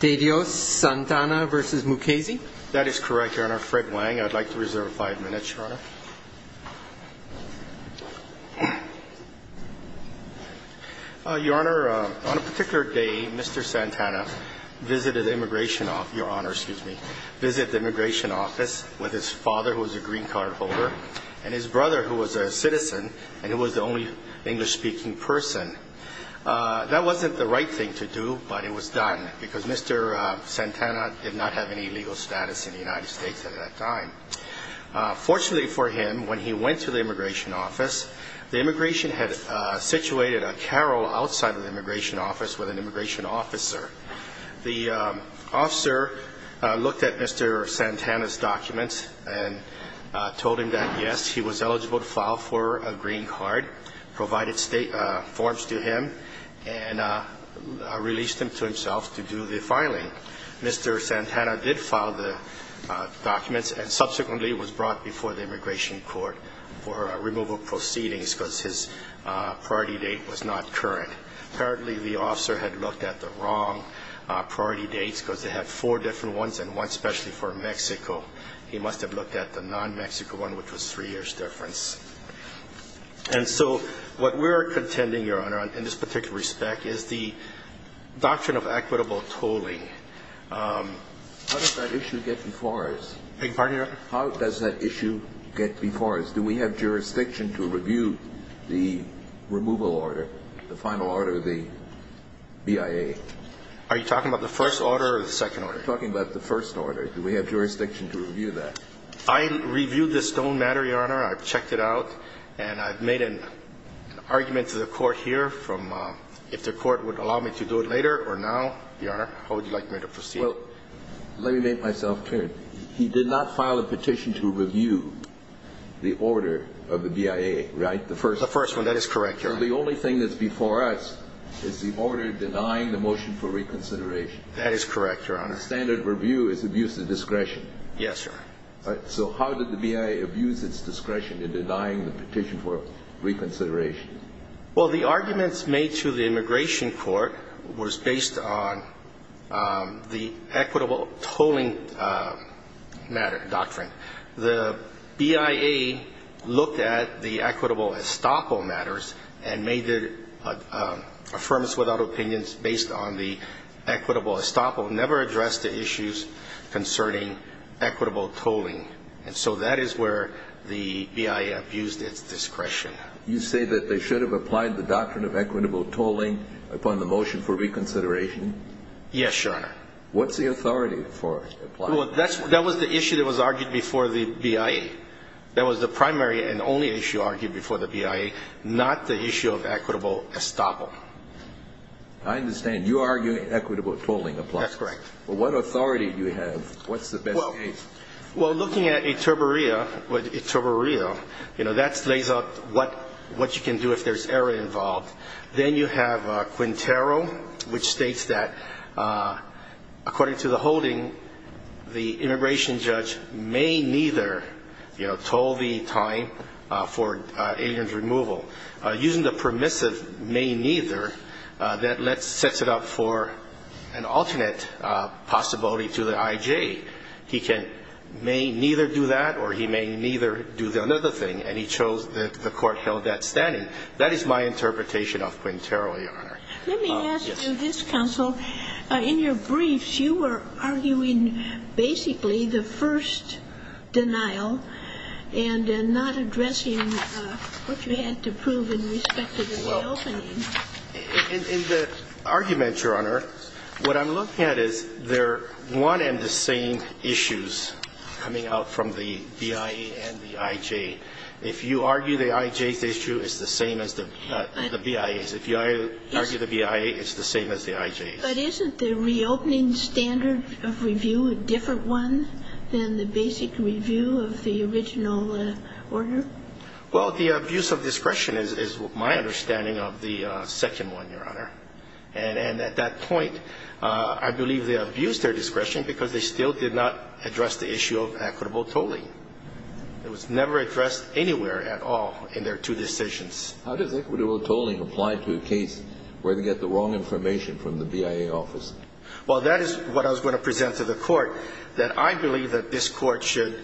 De Dios Santana v. Mukasey That is correct, Your Honor. Fred Wang, I'd like to reserve five minutes, Your Honor. Your Honor, on a particular day, Mr. Santana visited the immigration office with his father, who was a green card holder, and his brother, who was a citizen, and who was the only English speaking person. That wasn't the right thing to do, but it was done, because Mr. Santana did not have any legal status in the United States at that time. Fortunately for him, when he went to the immigration office, the immigration had situated a carrel outside of the immigration office with an immigration officer. The officer looked at Mr. Santana's green card, provided forms to him, and released him to himself to do the filing. Mr. Santana did file the documents, and subsequently was brought before the immigration court for removal proceedings, because his priority date was not current. Apparently, the officer had looked at the wrong priority dates, because they had four different ones, and one especially for Mexico. He must have looked at the non-Mexico one, which was three years' difference. And so, what we're contending, Your Honor, in this particular respect, is the doctrine of equitable tolling. How does that issue get before us? Beg your pardon, Your Honor? How does that issue get before us? Do we have jurisdiction to review the removal order, the final order of the BIA? Are you talking about the first order or the second order? I'm talking about the first order. Do we have jurisdiction to review that? I reviewed the stone matter, Your Honor. I've checked it out, and I've made an argument to the court here from, if the court would allow me to do it later or now, Your Honor, how would you like me to proceed? Well, let me make myself clear. He did not file a petition to review the order of the BIA, right? The first one. The first one. That is correct, Your Honor. The only thing that's before us is the order denying the motion for reconsideration. That is correct, Your Honor. The standard of review is abuse of discretion. Yes, sir. So how did the BIA abuse its discretion in denying the petition for reconsideration? Well, the arguments made to the immigration court was based on the equitable tolling matter, doctrine. The BIA looked at the equitable estoppel matters and made their affirmance without opinions based on the equitable estoppel, never addressed the issues concerning equitable tolling. And so that is where the BIA abused its discretion. You say that they should have applied the doctrine of equitable tolling upon the motion for reconsideration? Yes, Your Honor. What's the authority for applying it? That was the issue that was argued before the BIA. That was the primary and only issue argued before the BIA, not the issue of equitable estoppel. I understand. You argue equitable tolling applies. That's correct. Well, what authority do you have? What's the best case? Well, looking at Eterborea, that lays out what you can do if there's error involved. Then you have Quintero, which states that, according to the holding, the immigration removal, using the permissive may neither, that sets it up for an alternate possibility to the I.J. He can may neither do that or he may neither do another thing. And he chose that the Court held that standing. That is my interpretation of Quintero, Your Honor. Let me ask you this, counsel. In your briefs, you were arguing basically the first denial and not addressing what you had to prove in respect to the reopening. Well, in the argument, Your Honor, what I'm looking at is they're one and the same issues coming out from the BIA and the I.J. If you argue the I.J.'s issue, it's the same as the BIA's. If you argue the BIA, it's the same as the I.J.'s. But isn't the reopening standard of review a different one than the basic review of the original order? Well, the abuse of discretion is my understanding of the second one, Your Honor. And at that point, I believe they abused their discretion because they still did not address the issue of equitable tolling. It was never addressed anywhere at all in their two decisions. How does equitable tolling apply to a case where they get the wrong information from the BIA office? Well, that is what I was going to present to the court, that I believe that this court should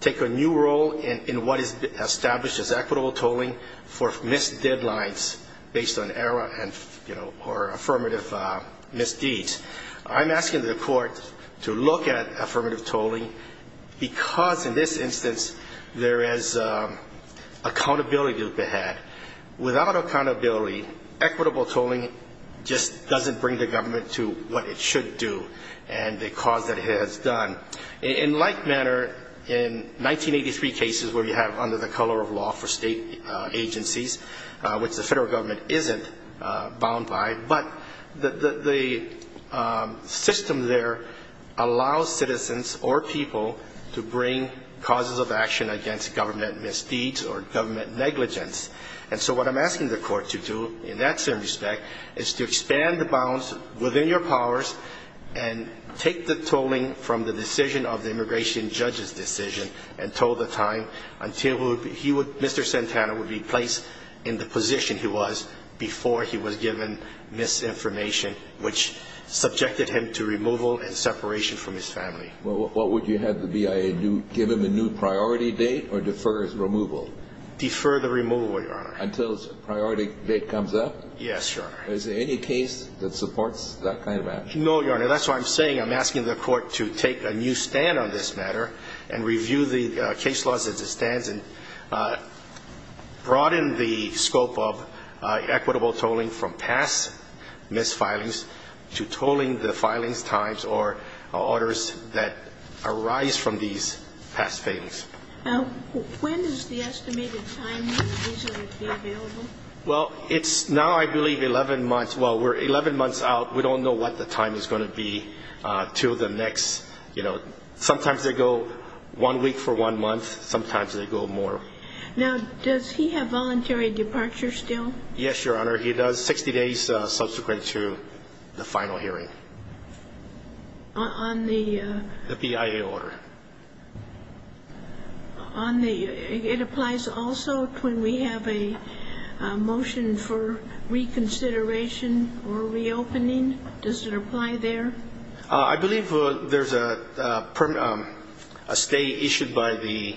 take a new role in what is established as equitable tolling for missed deadlines based on error and, you know, or affirmative misdeeds. I'm asking the court to look at affirmative tolling because, in this instance, there is accountability to be had. Without accountability, equitable tolling just doesn't bring the government to what it should do and the cause that it has done. In like manner, in 1983 cases where you have under the color of law for state agencies, which the federal government isn't bound by, but the system there allows citizens or people to bring causes of action against government misdeeds or government negligence. And so what I'm asking the court to do in that same respect is to expand the bounds within your powers and take the tolling from the decision of the immigration judge's decision and toll the time until Mr. Santana would be placed in the position he was before he was given misinformation, which subjected him to removal and separation from his family. Well, what would you have the BIA do? Give him a new priority date or defer his removal? Defer the removal, Your Honor. Until his priority date comes up? Yes, Your Honor. Is there any case that supports that kind of action? No, Your Honor. That's why I'm saying I'm asking the court to take a new stand on this matter and review the case laws as it stands and broaden the scope of past mis-filings to tolling the filings times or orders that arise from these past failings. Now, when is the estimated time that these are going to be available? Well, it's now I believe 11 months. Well, we're 11 months out. We don't know what the time is going to be until the next, you know, sometimes they go one week for one month. Sometimes they go more. Now, does he have voluntary departure still? Yes, Your Honor. He does. 60 days subsequent to the final hearing. On the BIA order? It applies also when we have a motion for reconsideration or reopening. Does it apply there? I believe there's a stay issued by the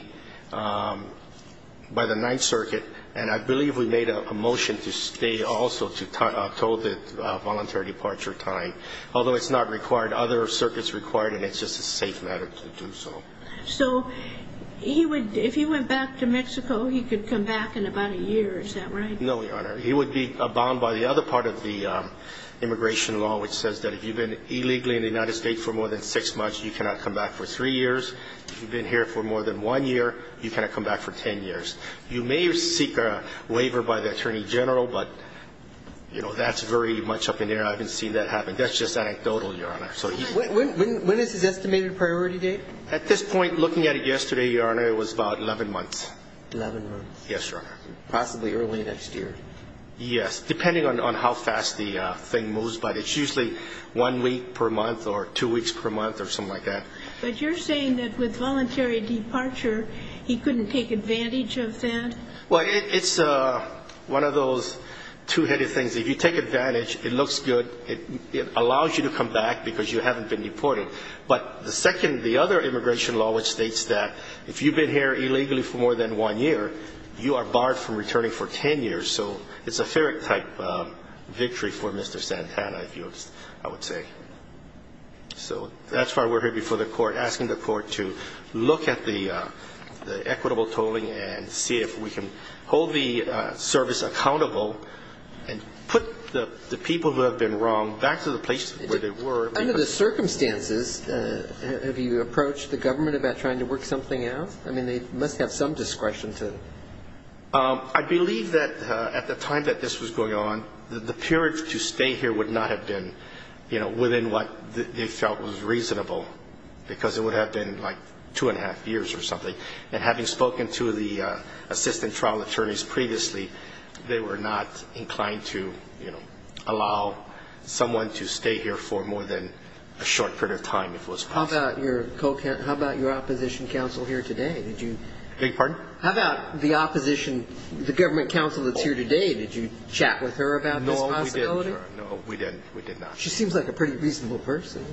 by the Ninth Circuit and I believe we made a motion to stay also to toll the voluntary departure time. Although it's not required, other circuits require it and it's just a safe matter to do so. So, if he went back to Mexico, he could come back in about a year, is that right? No, Your Honor. He would be bound by the other part of the immigration law which says that if you've been illegally in the United States for more than six months, you cannot come back for three years. If you've been here for more than one year, you cannot come back for 10 years. You may seek a stay issued by the Attorney General but, you know, that's very much up in the air. I haven't seen that happen. That's just anecdotal, Your Honor. When is his estimated priority date? At this point, looking at it yesterday, Your Honor, it was about 11 months. 11 months? Yes, Your Honor. Possibly early next year? Yes, depending on how fast the thing moves but it's usually one week per month or two weeks per month or something like that. But you're saying that with voluntary departure, he couldn't take advantage of that? Well, it's one of those two-headed things. If you take advantage, it looks good. It allows you to come back because you haven't been deported. But the second, the other immigration law which states that if you've been here illegally for more than one year, you are barred from returning for 10 years. So it's a ferret type victory for Mr. Santana, I would say. So that's why we're here before the court asking the court to look at the equitable tolling and see if we can hold the service accountable and put the people who have been wrong back to the place where they were. Under the circumstances, have you approached the government about trying to work something out? I mean, they must have some discretion to. I believe that at the time that this was going on, the period to stay here would not have been within what they felt was reasonable because it would have been like two and a half years or something. And having spoken to the assistant trial attorneys previously, they were not inclined to allow someone to stay here for more than a short period of time if it was possible. How about your opposition counsel here today? Beg your pardon? How about the opposition, the government counsel that's here today, did you chat with her about this possibility? No, we didn't. We did not. She seems like a pretty reasonable person.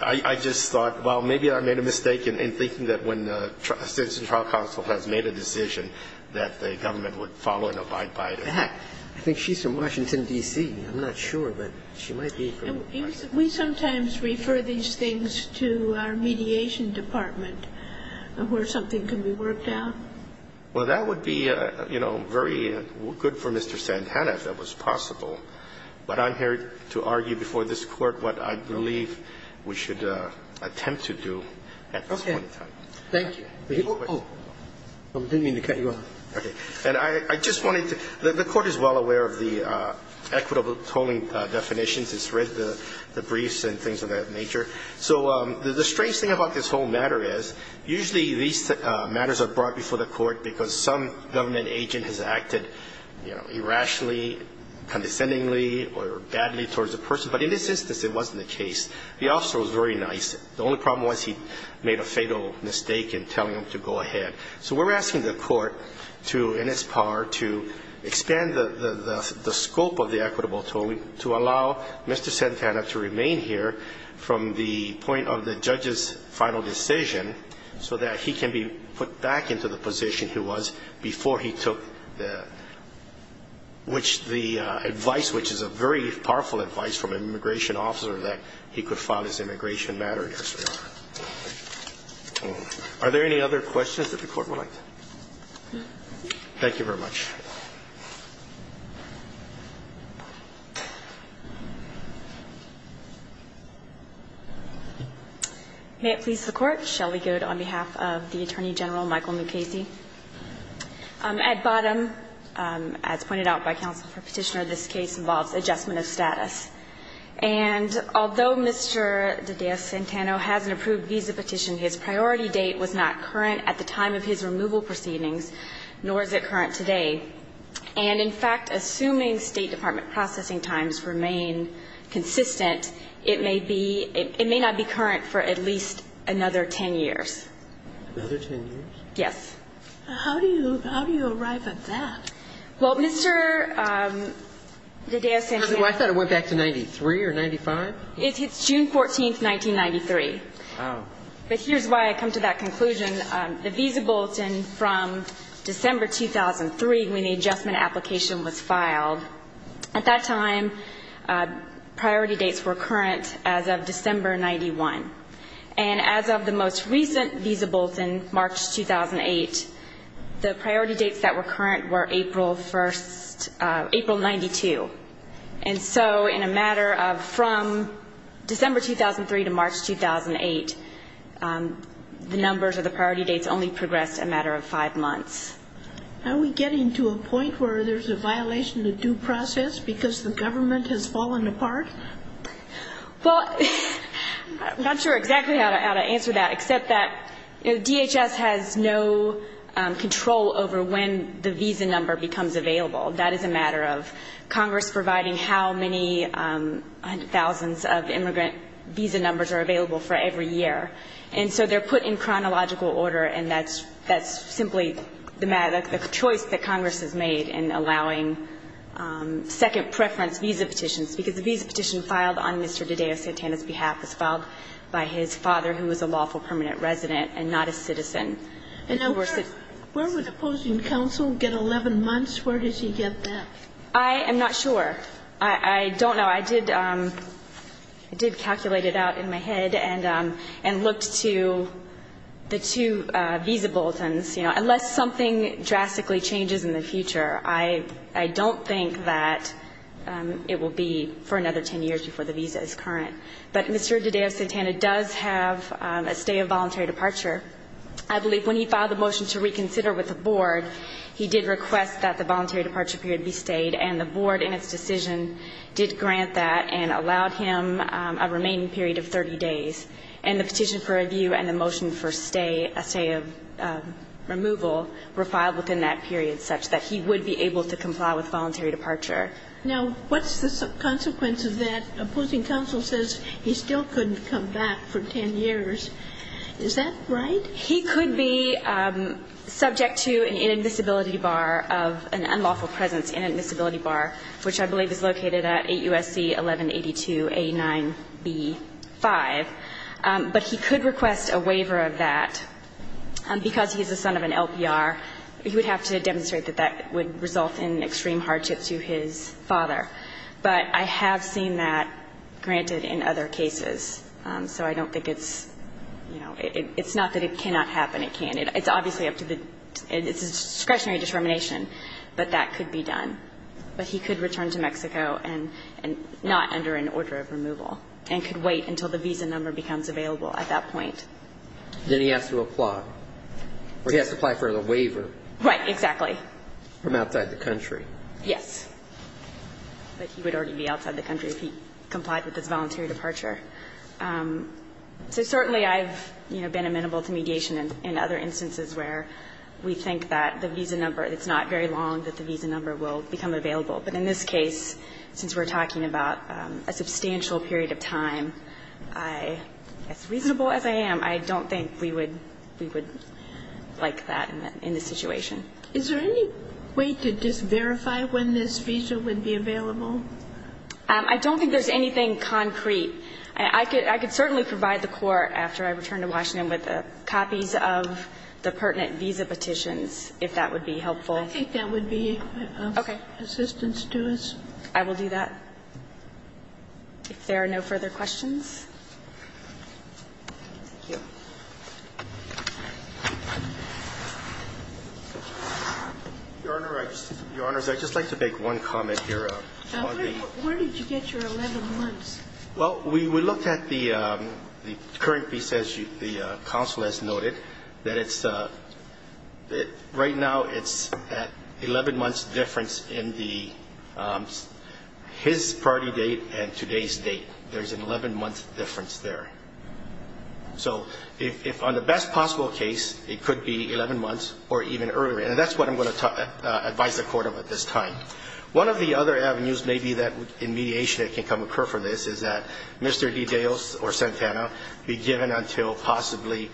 I just thought, well, maybe I made a mistake in thinking that when the assistant trial counsel has made a decision that the government would follow and abide by it. I think she's from Washington, D.C. I'm not sure, but she might be from Washington. We sometimes refer these things to our mediation department where something can be worked out. Well, that would be, you know, very good for Mr. Santana if that was possible. But I'm here to argue before this Court what I believe we should attempt to do at this point in time. Thank you. Oh, I'm doing it in the category. Okay. And I just wanted to the Court is well aware of the equitable tolling definitions. It's read the briefs and things of that nature. So the strange thing about this whole matter is usually these matters are brought before the Court because some government agent has acted, you know, irrationally or condescendingly or badly towards the person. But in this instance, it wasn't the case. The officer was very nice. The only problem was he made a fatal mistake in telling him to go ahead. So we're asking the Court to, in its part, to expand the scope of the equitable tolling to allow Mr. Santana to remain here from the point of the judge's final decision so that he can be put back into the position he was before he took the advice, which is a very powerful advice from an immigration officer, that he could file his immigration matter here, so. Are there any other questions that the Court would like to? Thank you very much. May it please the Court, Shelley Goad on behalf of the Attorney General, Michael Mukasey. At bottom, as pointed out by counsel for Petitioner, this case involves adjustment of status. And although Mr. Dedea-Santano has an approved visa petition, his priority date was not current at the time of his removal proceedings, nor is it current today. And in fact, assuming State Department processing times remain consistent, it may be – it may not be current for at least another 10 years. Another 10 years? Yes. How do you – how do you arrive at that? Well, Mr. Dedea-Santano – I thought it went back to 93 or 95? It's June 14, 1993. Wow. But here's why I come to that conclusion. The visa bulletin from December 2003, when the adjustment application was filed, at that time, priority dates were current as of December 91. And as of the most recent visa bulletin, March 2008, the priority dates that were current were April 1st – April 92. And so, in a matter of from December 2003 to March 2008, the numbers of the priority dates only progressed a matter of five months. Are we getting to a point where there's a violation of due process because the government has fallen apart? Well, I'm not sure exactly how to answer that, except that DHS has no control over when the visa number becomes available. That is a matter of Congress providing how many thousands of immigrant visa numbers are available for every year. And so, they're put in chronological order, and that's – that's simply the choice that Congress has made in allowing second preference visa petitions, because the visa petition filed on Mr. Dedeo Santana's behalf was filed by his father, who was a lawful permanent resident and not a citizen. And now, where would opposing counsel get 11 months? Where does he get that? I am not sure. I don't know. I did – I did calculate it out in my head and looked to the two visa bulletins. You know, unless something drastically changes in the future, I don't think that it will be for another 10 years before the visa is current. But Mr. Dedeo Santana does have a stay of voluntary departure. I believe when he filed the motion to reconsider with the Board, he did request that the voluntary departure period be stayed. And the Board, in its decision, did grant that and allowed him a remaining period of 30 days. And the petition for review and the motion for stay – a stay of removal were filed within that period, such that he would be able to comply with his voluntary departure. Now, what's the consequence of that? Opposing counsel says he still couldn't come back for 10 years. Is that right? He could be subject to an inadmissibility bar of – an unlawful presence inadmissibility bar, which I believe is located at 8 USC 1182A9B5. But he could request a waiver of that. Because he is the son of an LPR, he would have to demonstrate that that would result in extreme hardship to his father. But I have seen that granted in other cases. So I don't think it's – it's not that it cannot happen. It can't. It's obviously up to the – it's a discretionary determination. But that could be done. But he could return to Mexico and not under an order of removal. And could wait until the visa number becomes available at that point. Then he has to apply. Or he has to apply for a waiver. Right. Exactly. From outside the country. Yes. But he would already be outside the country if he complied with his voluntary departure. So certainly I've, you know, been amenable to mediation in other instances where we think that the visa number – it's not very long that the visa number will become available. But in this case, since we're talking about a substantial period of time, I – as reasonable as I am, I don't think we would – we would like that in this situation. Is there any way to just verify when this visa would be available? I don't think there's anything concrete. I could – I could certainly provide the court after I return to Washington with copies of the pertinent visa petitions, if that would be helpful. I think that would be of assistance to us. Okay. I will do that. If there are no further questions. Thank you. Your Honor, I just – Your Honors, I'd just like to make one comment here. Where did you get your 11 months? Well, we looked at the current piece, as the counsel has noted, that it's – right now it's at 11 months difference in the – his party date and today's date. There's an 11-month difference there. So if – on the best possible case, it could be 11 months or even earlier. And that's what I'm going to advise the court of at this time. One of the other avenues maybe that in mediation it can come occur from this is that Mr. DeDeos or Santana be given until possibly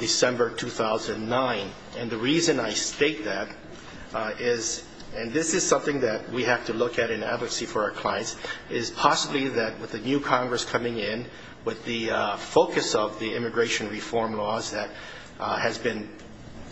December 2009. And the reason I state that is – and this is something that we have to look at in advocacy for our clients – is possibly that with the new Congress coming in, with the focus of the immigration reform laws that has been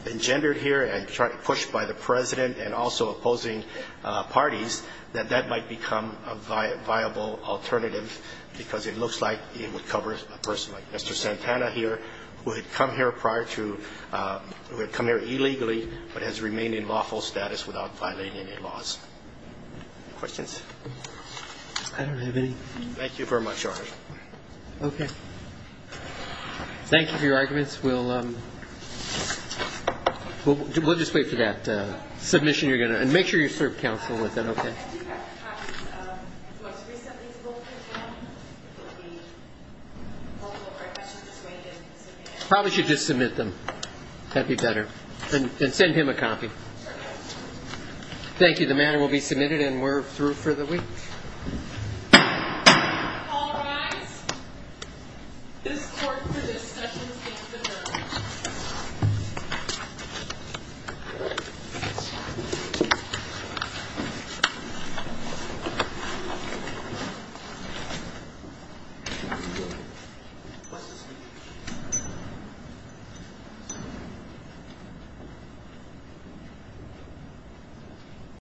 engendered here and pushed by the President and also opposing parties, that that might become a viable alternative because it looks like it would cover a person like Mr. Santana here, who had come here prior to – who had come here illegally but has remained in lawful status without violating any laws. Questions? I don't have any. Thank you very much, Your Honor. Okay. Thank you for your arguments. We'll – we'll just wait for that submission you're going to – and make sure you serve counsel with it, okay? Do you have copies of what was recently spoken from? If it would be helpful or if I should just wait and submit it? Probably should just submit them. That'd be better. And send him a copy. Okay. Thank you. The matter will be submitted and we're through for the week. All rise. This court for this session is adjourned.